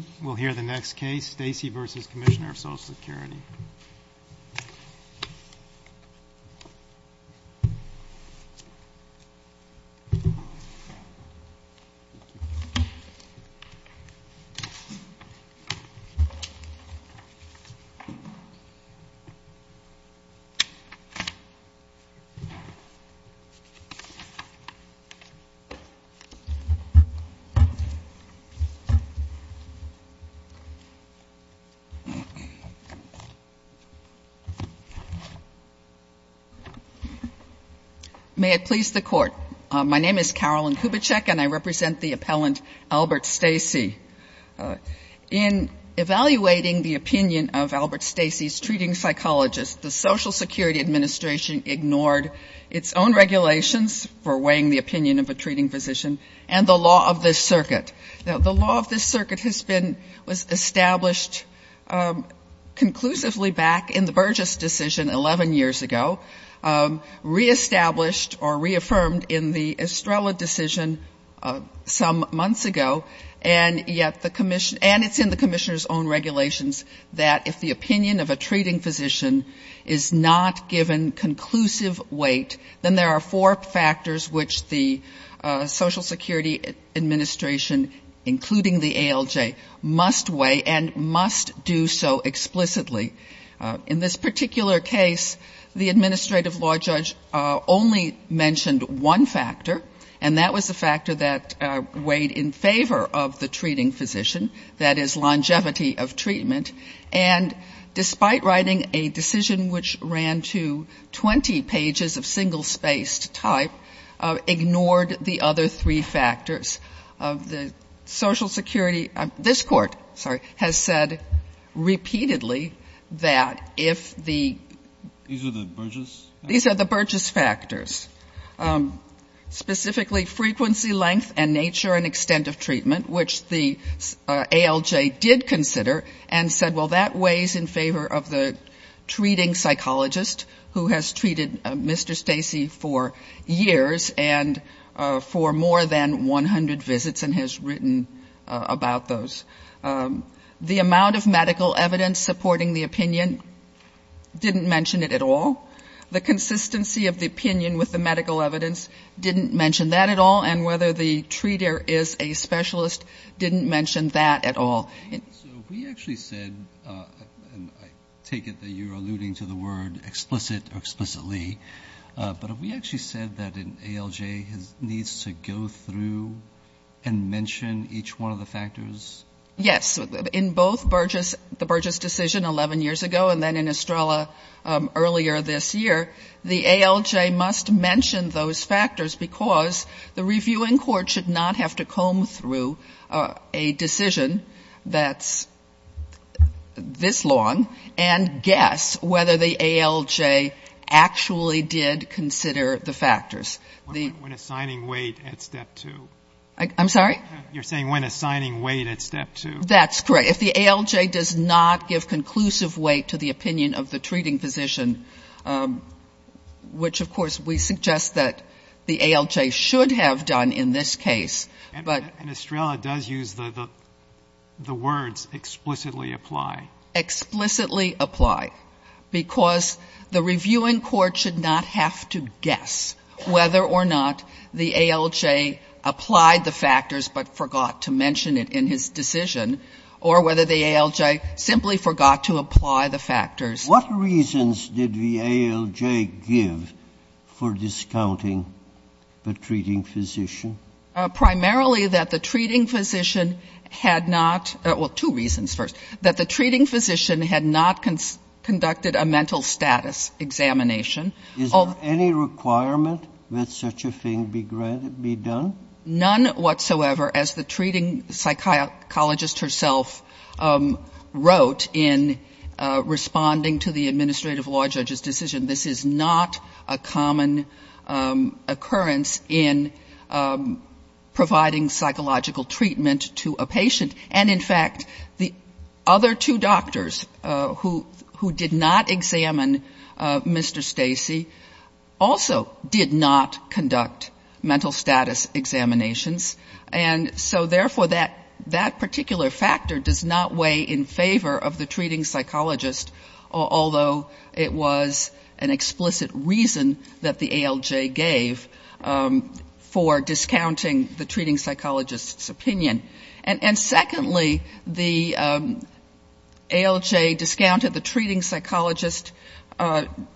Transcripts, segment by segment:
anity. May it please the court. My name is Carolyn Kubitschek and I represent the appellant Albert Stacey. In evaluating the opinion of Albert Stacey's treating psychologist, the Social Security Administration ignored its own regulations for weighing the opinion of a treating physician and the law of this circuit. Now the law of this circuit has been established conclusively back in the Burgess decision 11 years ago, reestablished or reaffirmed in the Estrella decision some months ago, and yet the commission, and it's in the commissioner's own regulations that if the opinion of a treating physician is not given conclusive weight, then there are four factors which the Social Security Administration, including the ALJ, must weigh. And must do so explicitly. In this particular case, the administrative law judge only mentioned one factor, and that was the factor that weighed in favor of the treating physician, that is, longevity of treatment. And despite writing a decision which ran to 20 pages of single-spaced type, ignored the other three factors of the Social Security. This court, sorry, has said repeatedly that if the ‑‑ These are the Burgess? Specifically, frequency, length and nature and extent of treatment, which the ALJ did consider and said, well, that weighs in favor of the treating psychologist who has treated Mr. Stacey for years and for more than 100 visits and has written about those. The amount of medical evidence supporting the opinion didn't mention it at all. The consistency of the opinion with the medical evidence didn't mention that at all. And whether the treater is a specialist didn't mention that at all. So we actually said, and I take it that you're alluding to the word explicit or explicitly, but have we actually said that an ALJ needs to go through and mention each one of the factors? Yes. In both the Burgess decision 11 years ago and then in Estrella earlier this year, the ALJ must mention those factors because the reviewing court should not have to comb through a decision that's this long and guess whether the ALJ actually did consider the factors. When assigning weight at step two. I'm sorry? You're saying when assigning weight at step two. That's correct. If the ALJ does not give conclusive weight to the opinion of the treating physician, which, of course, we suggest that the ALJ should have done in this case. And Estrella does use the words explicitly apply. Explicitly apply because the reviewing court should not have to guess whether or not the ALJ applied the factors but forgot to mention it in his decision or whether the ALJ simply forgot to apply the factors. What reasons did the ALJ give for discounting the treating physician? Primarily that the treating physician had not, well, two reasons first, that the treating physician had not conducted a mental status examination. Is there any requirement that such a thing be done? None whatsoever, as the treating psychologist herself wrote in responding to the administrative law judge's decision. This is not a common occurrence in providing psychological treatment to a patient. And, in fact, the other two doctors who did not examine Mr. Stacey also did not conduct mental status examinations. And so, therefore, that particular factor does not weigh in favor of the treating psychologist, although it was an explicit reason that the ALJ gave for discounting the treating psychologist's opinion. And secondly, the ALJ discounted the treating psychologist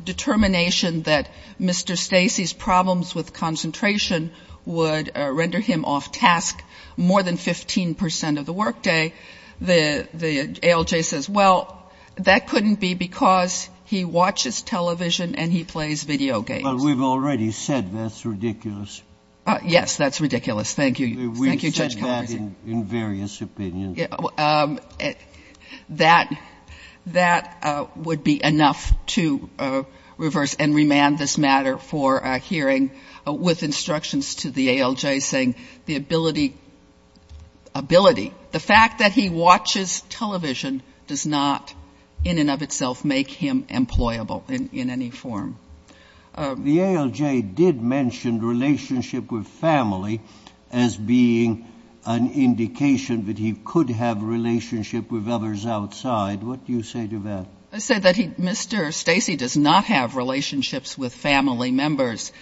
determination that Mr. Stacey's problems with concentration would render him off-task more than 15 percent of the workday. The ALJ says, well, that couldn't be because he watches television and he plays video games. But we've already said that's ridiculous. Yes, that's ridiculous. Thank you. We've said that in various opinions. That would be enough to reverse and remand this matter for a hearing with instructions to the ALJ saying the ability, ability, the fact that he watches television does not in and of itself make him employable in any form. The ALJ did mention relationship with family as being an indication that he could have relationship with others outside. What do you say to that? I say that Mr. Stacey does not have relationships with family members.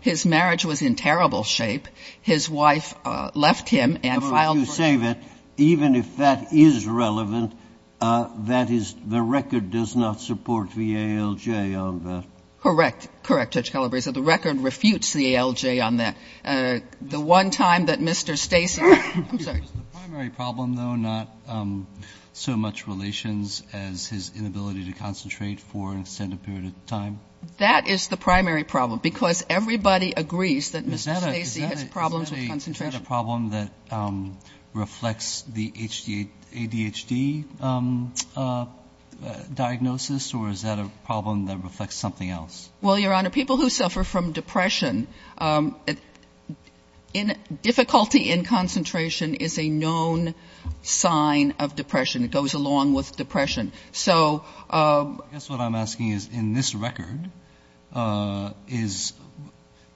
His marriage was in terrible shape. His wife left him and filed for divorce. I say that even if that is relevant, that is, the record does not support the ALJ on that. Correct. Correct, Judge Calabresi. The record refutes the ALJ on that. The one time that Mr. Stacey, I'm sorry. Was the primary problem, though, not so much relations as his inability to concentrate for an extended period of time? That is the primary problem because everybody agrees that Mr. Stacey has problems with concentration. Is that a problem that reflects the ADHD diagnosis, or is that a problem that reflects something else? Well, Your Honor, people who suffer from depression, difficulty in concentration is a known sign of depression. It goes along with depression. I guess what I'm asking is in this record,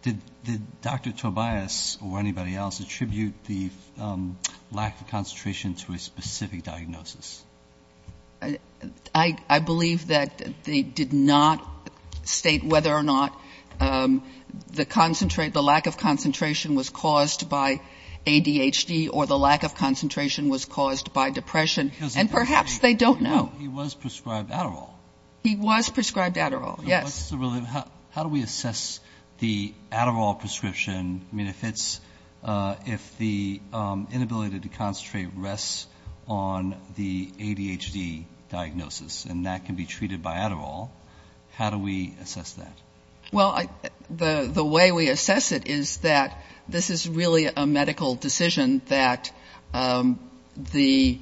did Dr. Tobias or anybody else attribute the lack of concentration to a specific diagnosis? I believe that they did not state whether or not the lack of concentration was caused by ADHD or the lack of concentration was caused by depression. And perhaps they don't know. He was prescribed Adderall. He was prescribed Adderall, yes. How do we assess the Adderall prescription? I mean, if the inability to concentrate rests on the ADHD diagnosis and that can be treated by Adderall, how do we assess that? Well, the way we assess it is that this is really a medical decision that the,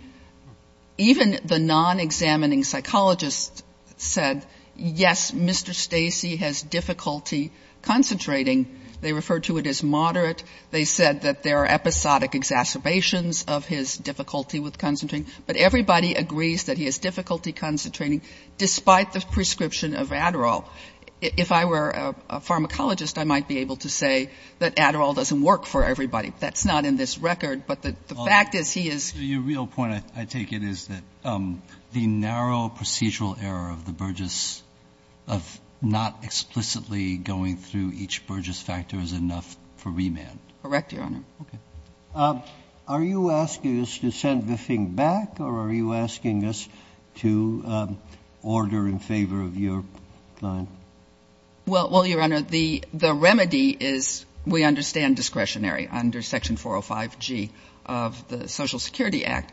even the non-examining psychologists said, yes, Mr. Stacey has difficulty concentrating. They referred to it as moderate. They said that there are episodic exacerbations of his difficulty with concentrating. But everybody agrees that he has difficulty concentrating, despite the prescription of Adderall. If I were a pharmacologist, I might be able to say that Adderall doesn't work for everybody. That's not in this record. But the fact is he is ---- Your real point, I take it, is that the narrow procedural error of the Burgess, of not explicitly going through each Burgess factor is enough for remand. Correct, Your Honor. Okay. Are you asking us to send the thing back or are you asking us to order in favor of your plan? Well, Your Honor, the remedy is we understand discretionary under Section 405G of the Social Security Act.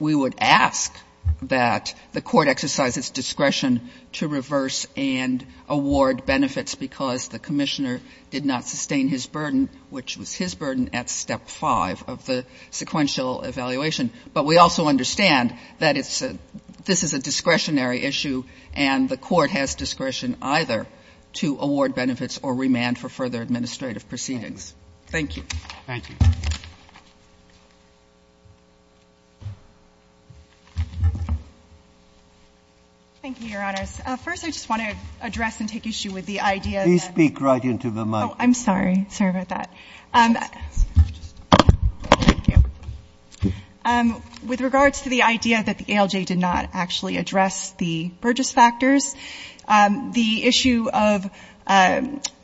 We would ask that the court exercise its discretion to reverse and award benefits because the commissioner did not sustain his burden, which was his burden at Step 5 of the sequential evaluation. But we also understand that this is a discretionary issue and the court has discretion either to award benefits or remand for further administrative proceedings. Thank you. Thank you. Thank you, Your Honors. First, I just want to address and take issue with the idea that ---- Please speak right into the mic. Oh, I'm sorry. Sorry about that. With regards to the idea that the ALJ did not actually address the Burgess factors, the issue of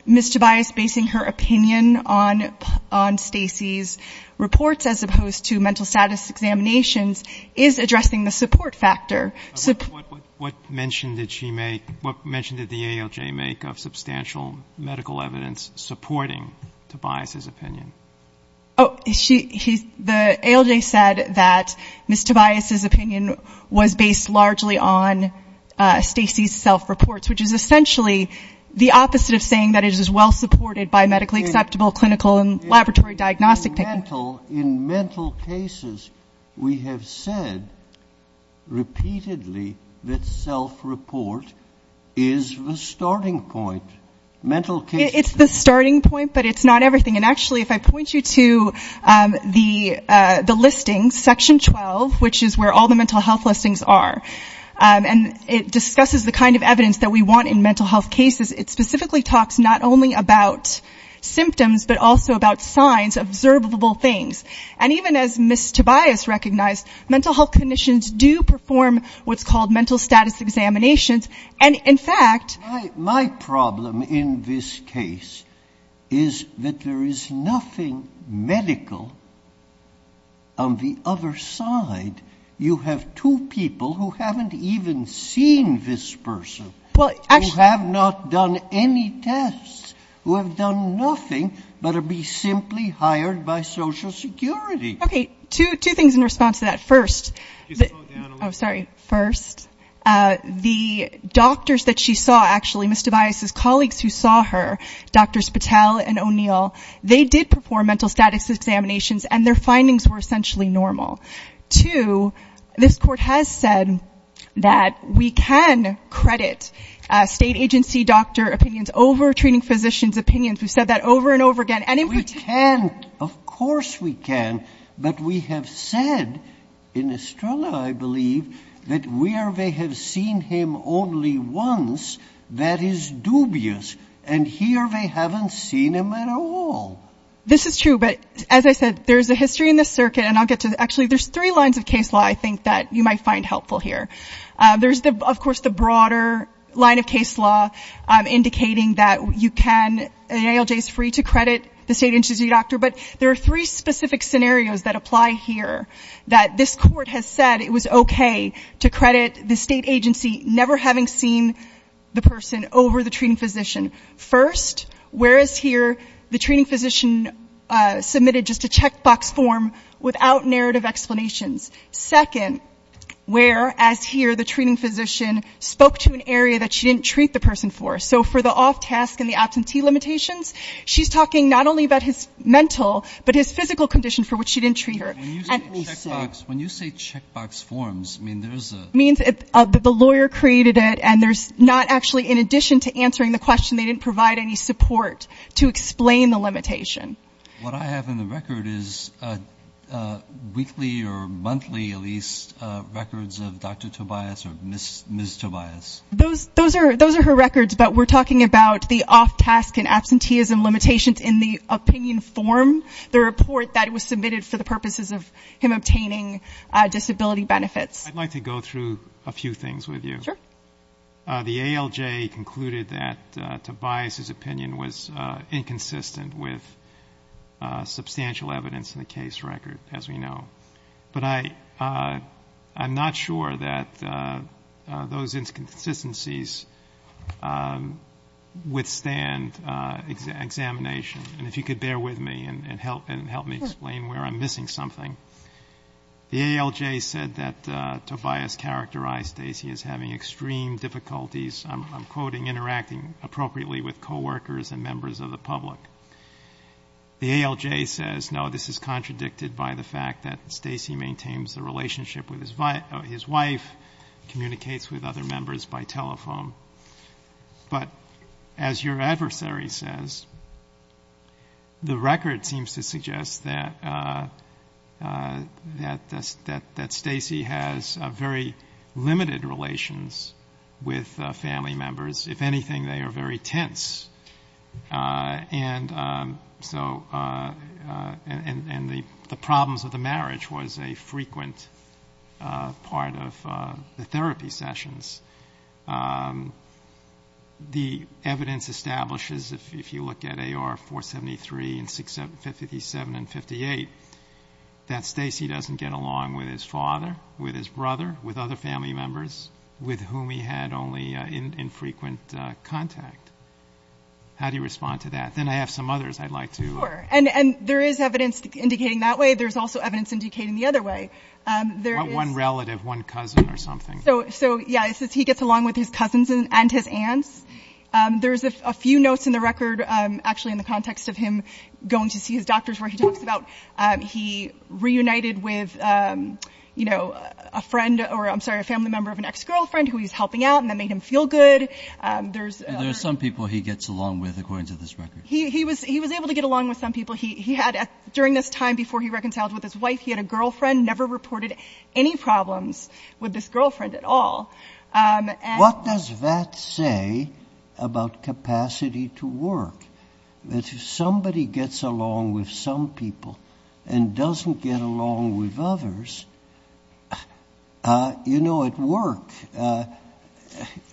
Ms. Tobias basing her opinion on Stacy's reports as opposed to mental status examinations is addressing the support factor. What mention did she make? What mention did the ALJ make of substantial medical evidence supporting Tobias's opinion? The ALJ said that Ms. Tobias's opinion was based largely on Stacy's self-reports, which is essentially the opposite of saying that it is well-supported by medically acceptable clinical and laboratory diagnostic people. In mental cases, we have said repeatedly that self-report is the starting point. Mental cases ---- It's the starting point, but it's not everything. And, actually, if I point you to the listings, Section 12, which is where all the mental health listings are, and it discusses the kind of evidence that we want in mental health cases, it specifically talks not only about symptoms but also about signs, observable things. And even as Ms. Tobias recognized, mental health clinicians do perform what's called mental status examinations. And, in fact ---- My problem in this case is that there is nothing medical on the other side. You have two people who haven't even seen this person, who have not done any tests, who have done nothing but to be simply hired by Social Security. Okay. Two things in response to that. First ---- Can you slow down a little bit? Oh, sorry. First, the doctors that she saw, actually, Ms. Tobias's colleagues who saw her, Drs. Patel and O'Neill, they did perform mental status examinations, and their findings were essentially normal. Two, this Court has said that we can credit state agency doctor opinions over treating physicians' opinions. We've said that over and over again. And in particular ---- We can. Of course we can. But we have said, in Estrella, I believe, that where they have seen him only once, that is dubious. And here they haven't seen him at all. This is true. But, as I said, there's a history in this circuit, and I'll get to it. Actually, there's three lines of case law I think that you might find helpful here. There's, of course, the broader line of case law indicating that you can ---- ALJ is free to credit the state agency doctor. But there are three specific scenarios that apply here that this Court has said it was okay to credit the state agency never having seen the person over the treating physician. First, whereas here the treating physician submitted just a checkbox form without narrative explanations. Second, whereas here the treating physician spoke to an area that she didn't treat the person for. So for the off-task and the absentee limitations, she's talking not only about his mental, but his physical condition for which she didn't treat her. And so ---- When you say checkbox forms, I mean, there's a ---- It means the lawyer created it, and there's not actually, in addition to answering the question, they didn't provide any support to explain the limitation. What I have in the record is weekly or monthly at least records of Dr. Tobias or Ms. Tobias. Those are her records, but we're talking about the off-task and absenteeism limitations in the opinion form, the report that was submitted for the purposes of him obtaining disability benefits. I'd like to go through a few things with you. Sure. The ALJ concluded that Tobias' opinion was inconsistent with substantial evidence in the case record, as we know. But I'm not sure that those inconsistencies withstand examination. And if you could bear with me and help me explain where I'm missing something. The ALJ said that Tobias characterized Stacey as having extreme difficulties, I'm quoting, interacting appropriately with coworkers and members of the public. The ALJ says, no, this is contradicted by the fact that Stacey maintains a relationship with his wife, communicates with other members by telephone. But as your adversary says, the record seems to suggest that Stacey has very limited relations with family members. If anything, they are very tense. And the problems of the marriage was a frequent part of the therapy sessions. The evidence establishes, if you look at AR 473 and 57 and 58, that Stacey doesn't get along with his father, with his brother, with other family members, with whom he had only infrequent contact. How do you respond to that? Then I have some others I'd like to. Sure. And there is evidence indicating that way. There's also evidence indicating the other way. One relative, one cousin or something. So, yeah, it says he gets along with his cousins and his aunts. There's a few notes in the record, actually, in the context of him going to see his doctors where he talks about he reunited with, you know, a friend or, I'm sorry, a family member of an ex-girlfriend who he's helping out and that made him feel good. There are some people he gets along with, according to this record. He was able to get along with some people. He had, during this time before he reconciled with his wife, he had a girlfriend, never reported any problems with this girlfriend at all. What does that say about capacity to work? If somebody gets along with some people and doesn't get along with others, you know, at work,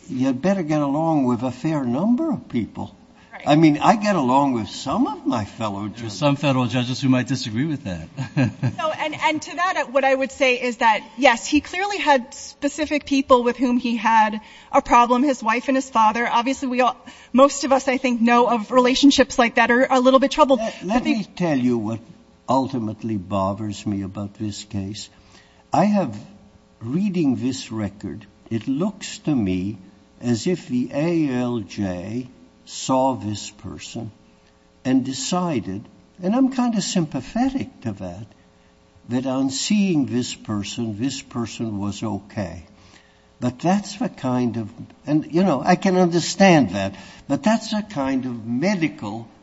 you better get along with a fair number of people. I mean, I get along with some of my fellow judges. There are some federal judges who might disagree with that. And to that, what I would say is that, yes, he clearly had specific people with whom he had a problem, his wife and his father. Obviously, most of us, I think, know of relationships like that are a little bit troubled. Let me tell you what ultimately bothers me about this case. I have, reading this record, it looks to me as if the ALJ saw this person and decided, and I'm kind of sympathetic to that, that on seeing this person, this person was okay. But that's the kind of, and, you know, I can understand that, but that's the kind of medical evidence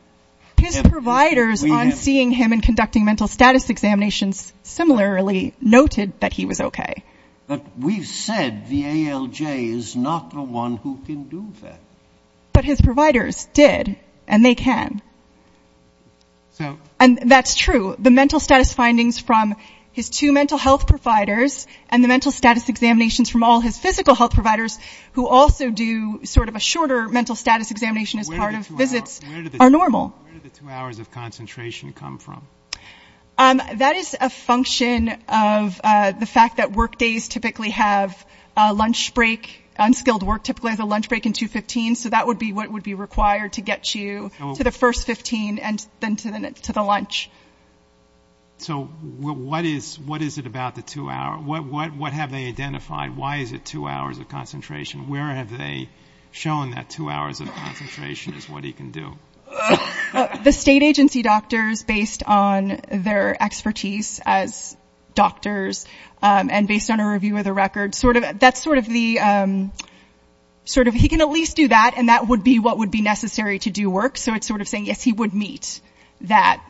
we have. His providers on seeing him and conducting mental status examinations similarly noted that he was okay. But we've said the ALJ is not the one who can do that. But his providers did, and they can. And that's true. The mental status findings from his two mental health providers and the mental status examinations from all his physical health providers, who also do sort of a shorter mental status examination as part of visits, are normal. Where did the two hours of concentration come from? That is a function of the fact that work days typically have lunch break, unskilled work typically has a lunch break in 2-15, so that would be what would be required to get you to the first 15 and then to the lunch. So what is it about the two hours? What have they identified? Why is it two hours of concentration? Where have they shown that two hours of concentration is what he can do? The state agency doctors, based on their expertise as doctors, and based on a review of the record, sort of that's sort of the sort of he can at least do that, and that would be what would be necessary to do work. So it's sort of saying, yes, he would meet that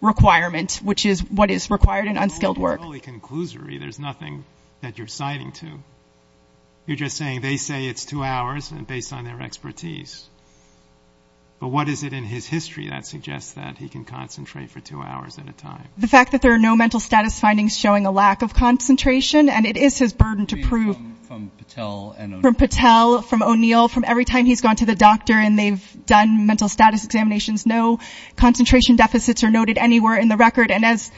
requirement, which is what is required in unskilled work. You're just saying they say it's two hours based on their expertise. But what is it in his history that suggests that he can concentrate for two hours at a time? The fact that there are no mental status findings showing a lack of concentration, and it is his burden to prove... From Patel and O'Neill. From Patel, from O'Neill, from every time he's gone to the doctor and they've done mental status examinations, no concentration deficits are noted anywhere in the record. And as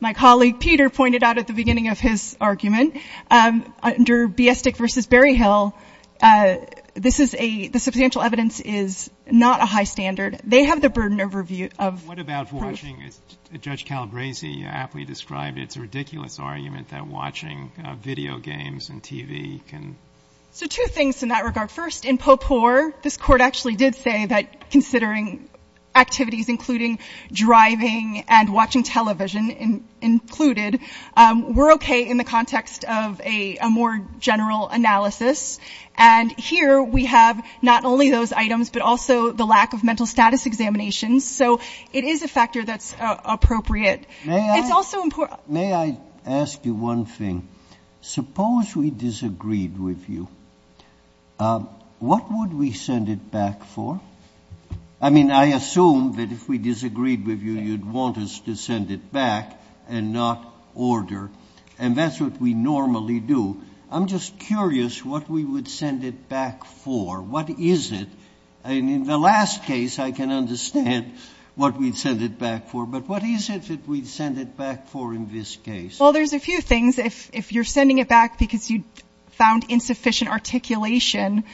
my colleague Peter pointed out at the beginning of his argument, under Biestik v. Berryhill, this is a — the substantial evidence is not a high standard. They have the burden of review of proof. What about watching, as Judge Calabresi aptly described, it's a ridiculous argument that watching video games and TV can... So two things in that regard. First, in Popor, this Court actually did say that considering activities including driving and watching television included, we're okay in the context of a more general analysis. And here we have not only those items, but also the lack of mental status examinations. So it is a factor that's appropriate. May I ask you one thing? Suppose we disagreed with you. What would we send it back for? I mean, I assume that if we disagreed with you, you'd want us to send it back and not order. And that's what we normally do. I'm just curious what we would send it back for. What is it? And in the last case, I can understand what we'd send it back for. But what is it that we'd send it back for in this case? Well, there's a few things. If you're sending it back because you found insufficient articulation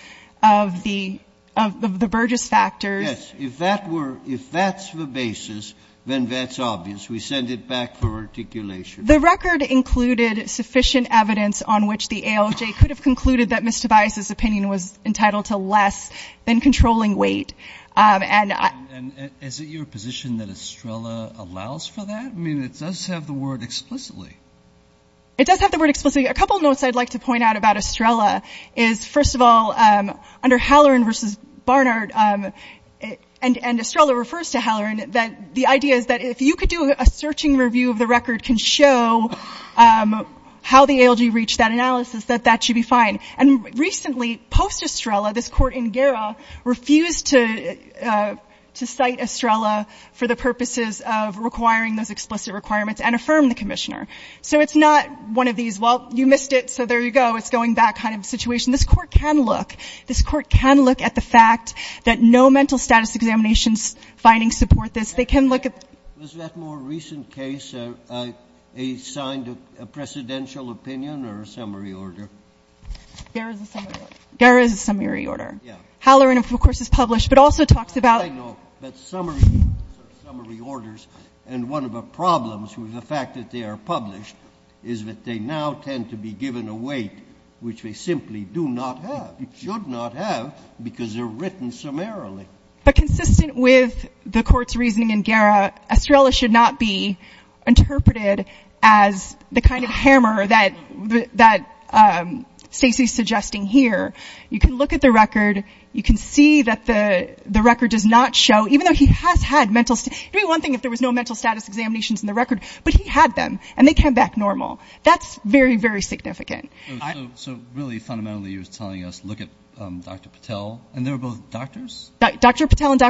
of the — of the Burgess factors... Yes. If that were — if that's the basis, then that's obvious. We send it back for articulation. The record included sufficient evidence on which the ALJ could have concluded that Ms. Tobias' opinion was entitled to less than controlling weight. And I — And is it your position that Estrella allows for that? I mean, it does have the word explicitly. The court can look at the fact that no mental status examination finding support this. This Court can look — this Court can look at the fact that no mental status examination findings support this. They can look at... You know, in that more recent case, a — a signed presidential opinion or a summary order. Gara is a summary order. Halloran, of course, is published, but also talks about... But consistent with the Court's reasoning in Gara, Estrella should not be interpreted as the kind of hammer that Stacey is suggesting here. You can look at the record. You can see that the record does not show — even though he has had mental — it would be one thing if there was no mental status examinations in the record, but he had them, and they came back normal. That's very, very significant. I do have a concern that I want to raise with you, and that is on the drug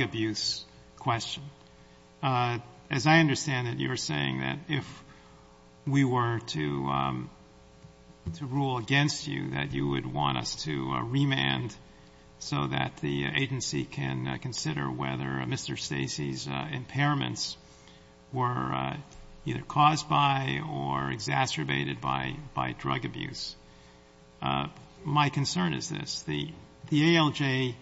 abuse question. As I understand it, you're saying that if we were to — to rule against you, that you would want us to remand so that the agency can consider whether Mr. Stacey's impairments were either caused by or exacerbated by drug abuse. My concern is this. The ALJ,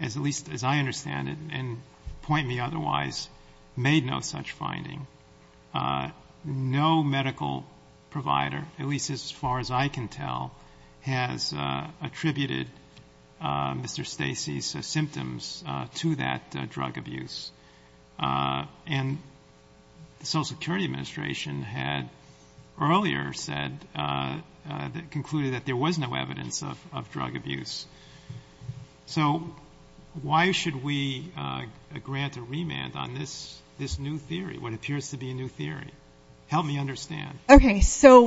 at least as I understand it, and point me otherwise, made no such finding. No medical provider, at least as far as I can tell, has attributed Mr. Stacey's symptoms to that drug abuse. And the Social Security Administration had earlier said — concluded that there was no evidence of drug abuse. So why should we grant a remand on this new theory, what appears to be a new theory? Help me understand. It's abuse.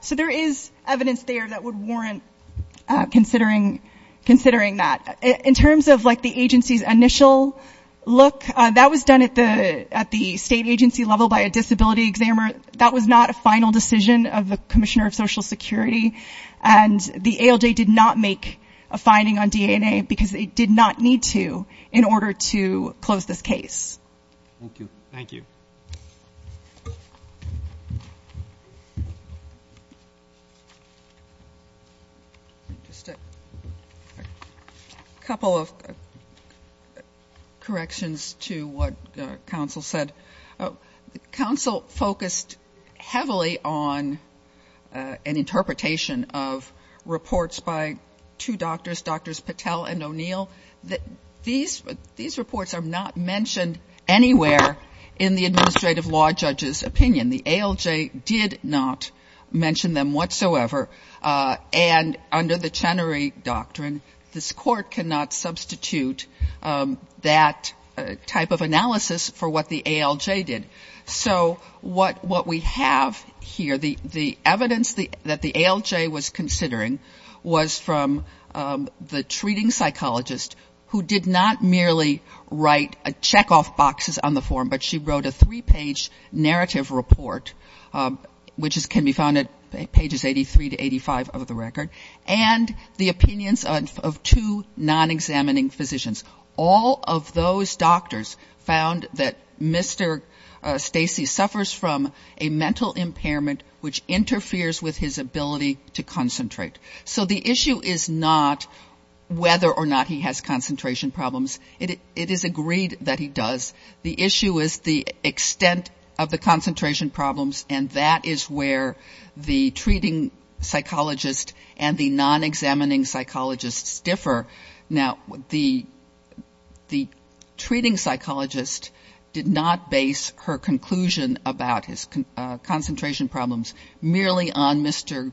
So there is evidence there that would warrant considering that. In terms of, like, the agency's initial look, that was done at the state agency level by a disability examiner. That was not a final decision of the commissioner of Social Security, and the ALJ did not make a finding on DNA because they did not need to in order to close this case. Thank you. A couple of corrections to what counsel said. Counsel focused heavily on an interpretation of reports by two doctors, Drs. Patel and O'Neill. These reports are not mentioned anywhere in the administrative law judge's opinion. The ALJ did not mention them whatsoever, and under the Chenery Doctrine, this Court cannot substitute that type of analysis for what the ALJ did. So what we have here, the evidence that the ALJ was considering was from the treating psychologist who did not merely write check-off boxes on the form, but she wrote a three-page narrative report, which can be found at pages 83 to 85 of the record, and the opinions of two non-examining physicians. All of those doctors found that Mr. Stacey suffers from a mental impairment which interferes with his ability to concentrate. So the issue is not whether or not he has concentration problems. It is agreed that he does. The issue is the extent of the concentration problems, and that is where the treating psychologist and the non-examining psychologists differ. Now, the treating psychologist did not base her conclusion about his concentration problems merely on Mr.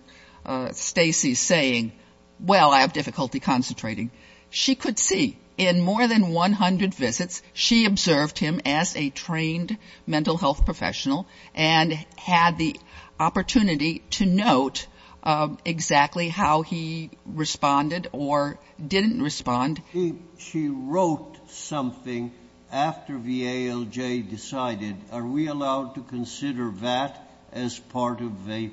Stacey's saying, well, I have difficulty concentrating. She could see in more than 100 visits she observed him as a trained mental health professional and had the opportunity to note exactly how he responded or didn't respond. She wrote something after the ALJ decided, are we allowed to consider that as part of a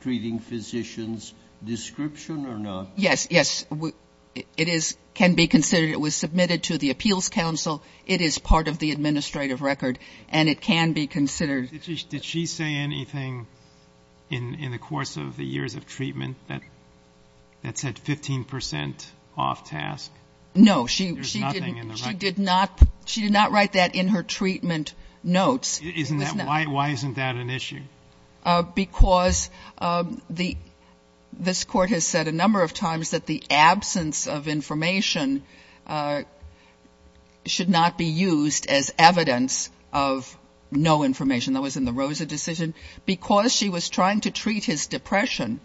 treating physician's description or not? Yes, yes. It can be considered. It was submitted to the appeals council. It is part of the administrative record, and it can be considered. Did she say anything in the course of the years of treatment that said 15 percent off task? No. She did not write that in her treatment notes. Why isn't that an issue? Because this Court has said a number of times that the absence of information should not be used as evidence of no information. That was in the Rosa decision. Because she was trying to treat his depression,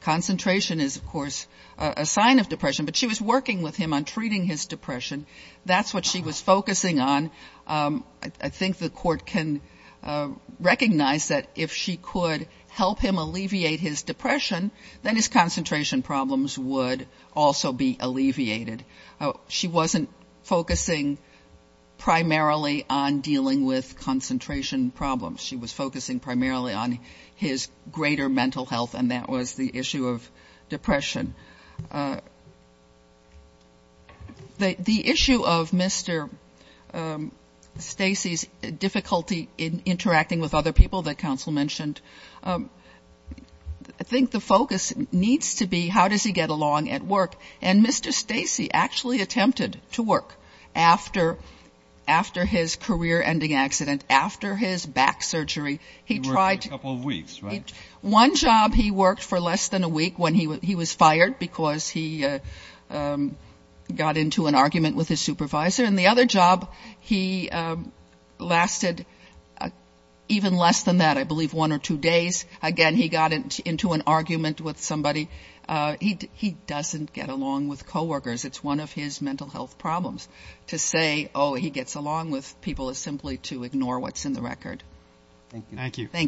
concentration is, of course, a sign of depression, but she was working with him on treating his depression. That's what she was focusing on. I think the Court can recognize that if she could help him alleviate his depression, then his concentration problems would also be alleviated. She wasn't focusing primarily on dealing with concentration problems. She was focusing primarily on his greater mental health, and that was the issue of depression. The issue of Mr. Stacey's difficulty in interacting with other people that counsel mentioned, I think the focus needs to be how does he get along at work, and Mr. Stacey actually attempted to work after his career-ending accident, after his back surgery. He worked for a couple of weeks, right? One job he worked for less than a week when he was fired because he got into an argument with his supervisor, and the other job he lasted even less than that, I believe one or two days. Again, he got into an argument with somebody. He doesn't get along with coworkers. It's one of his mental health problems to say, oh, he gets along with people, is simply to ignore what's in the record. Thank you.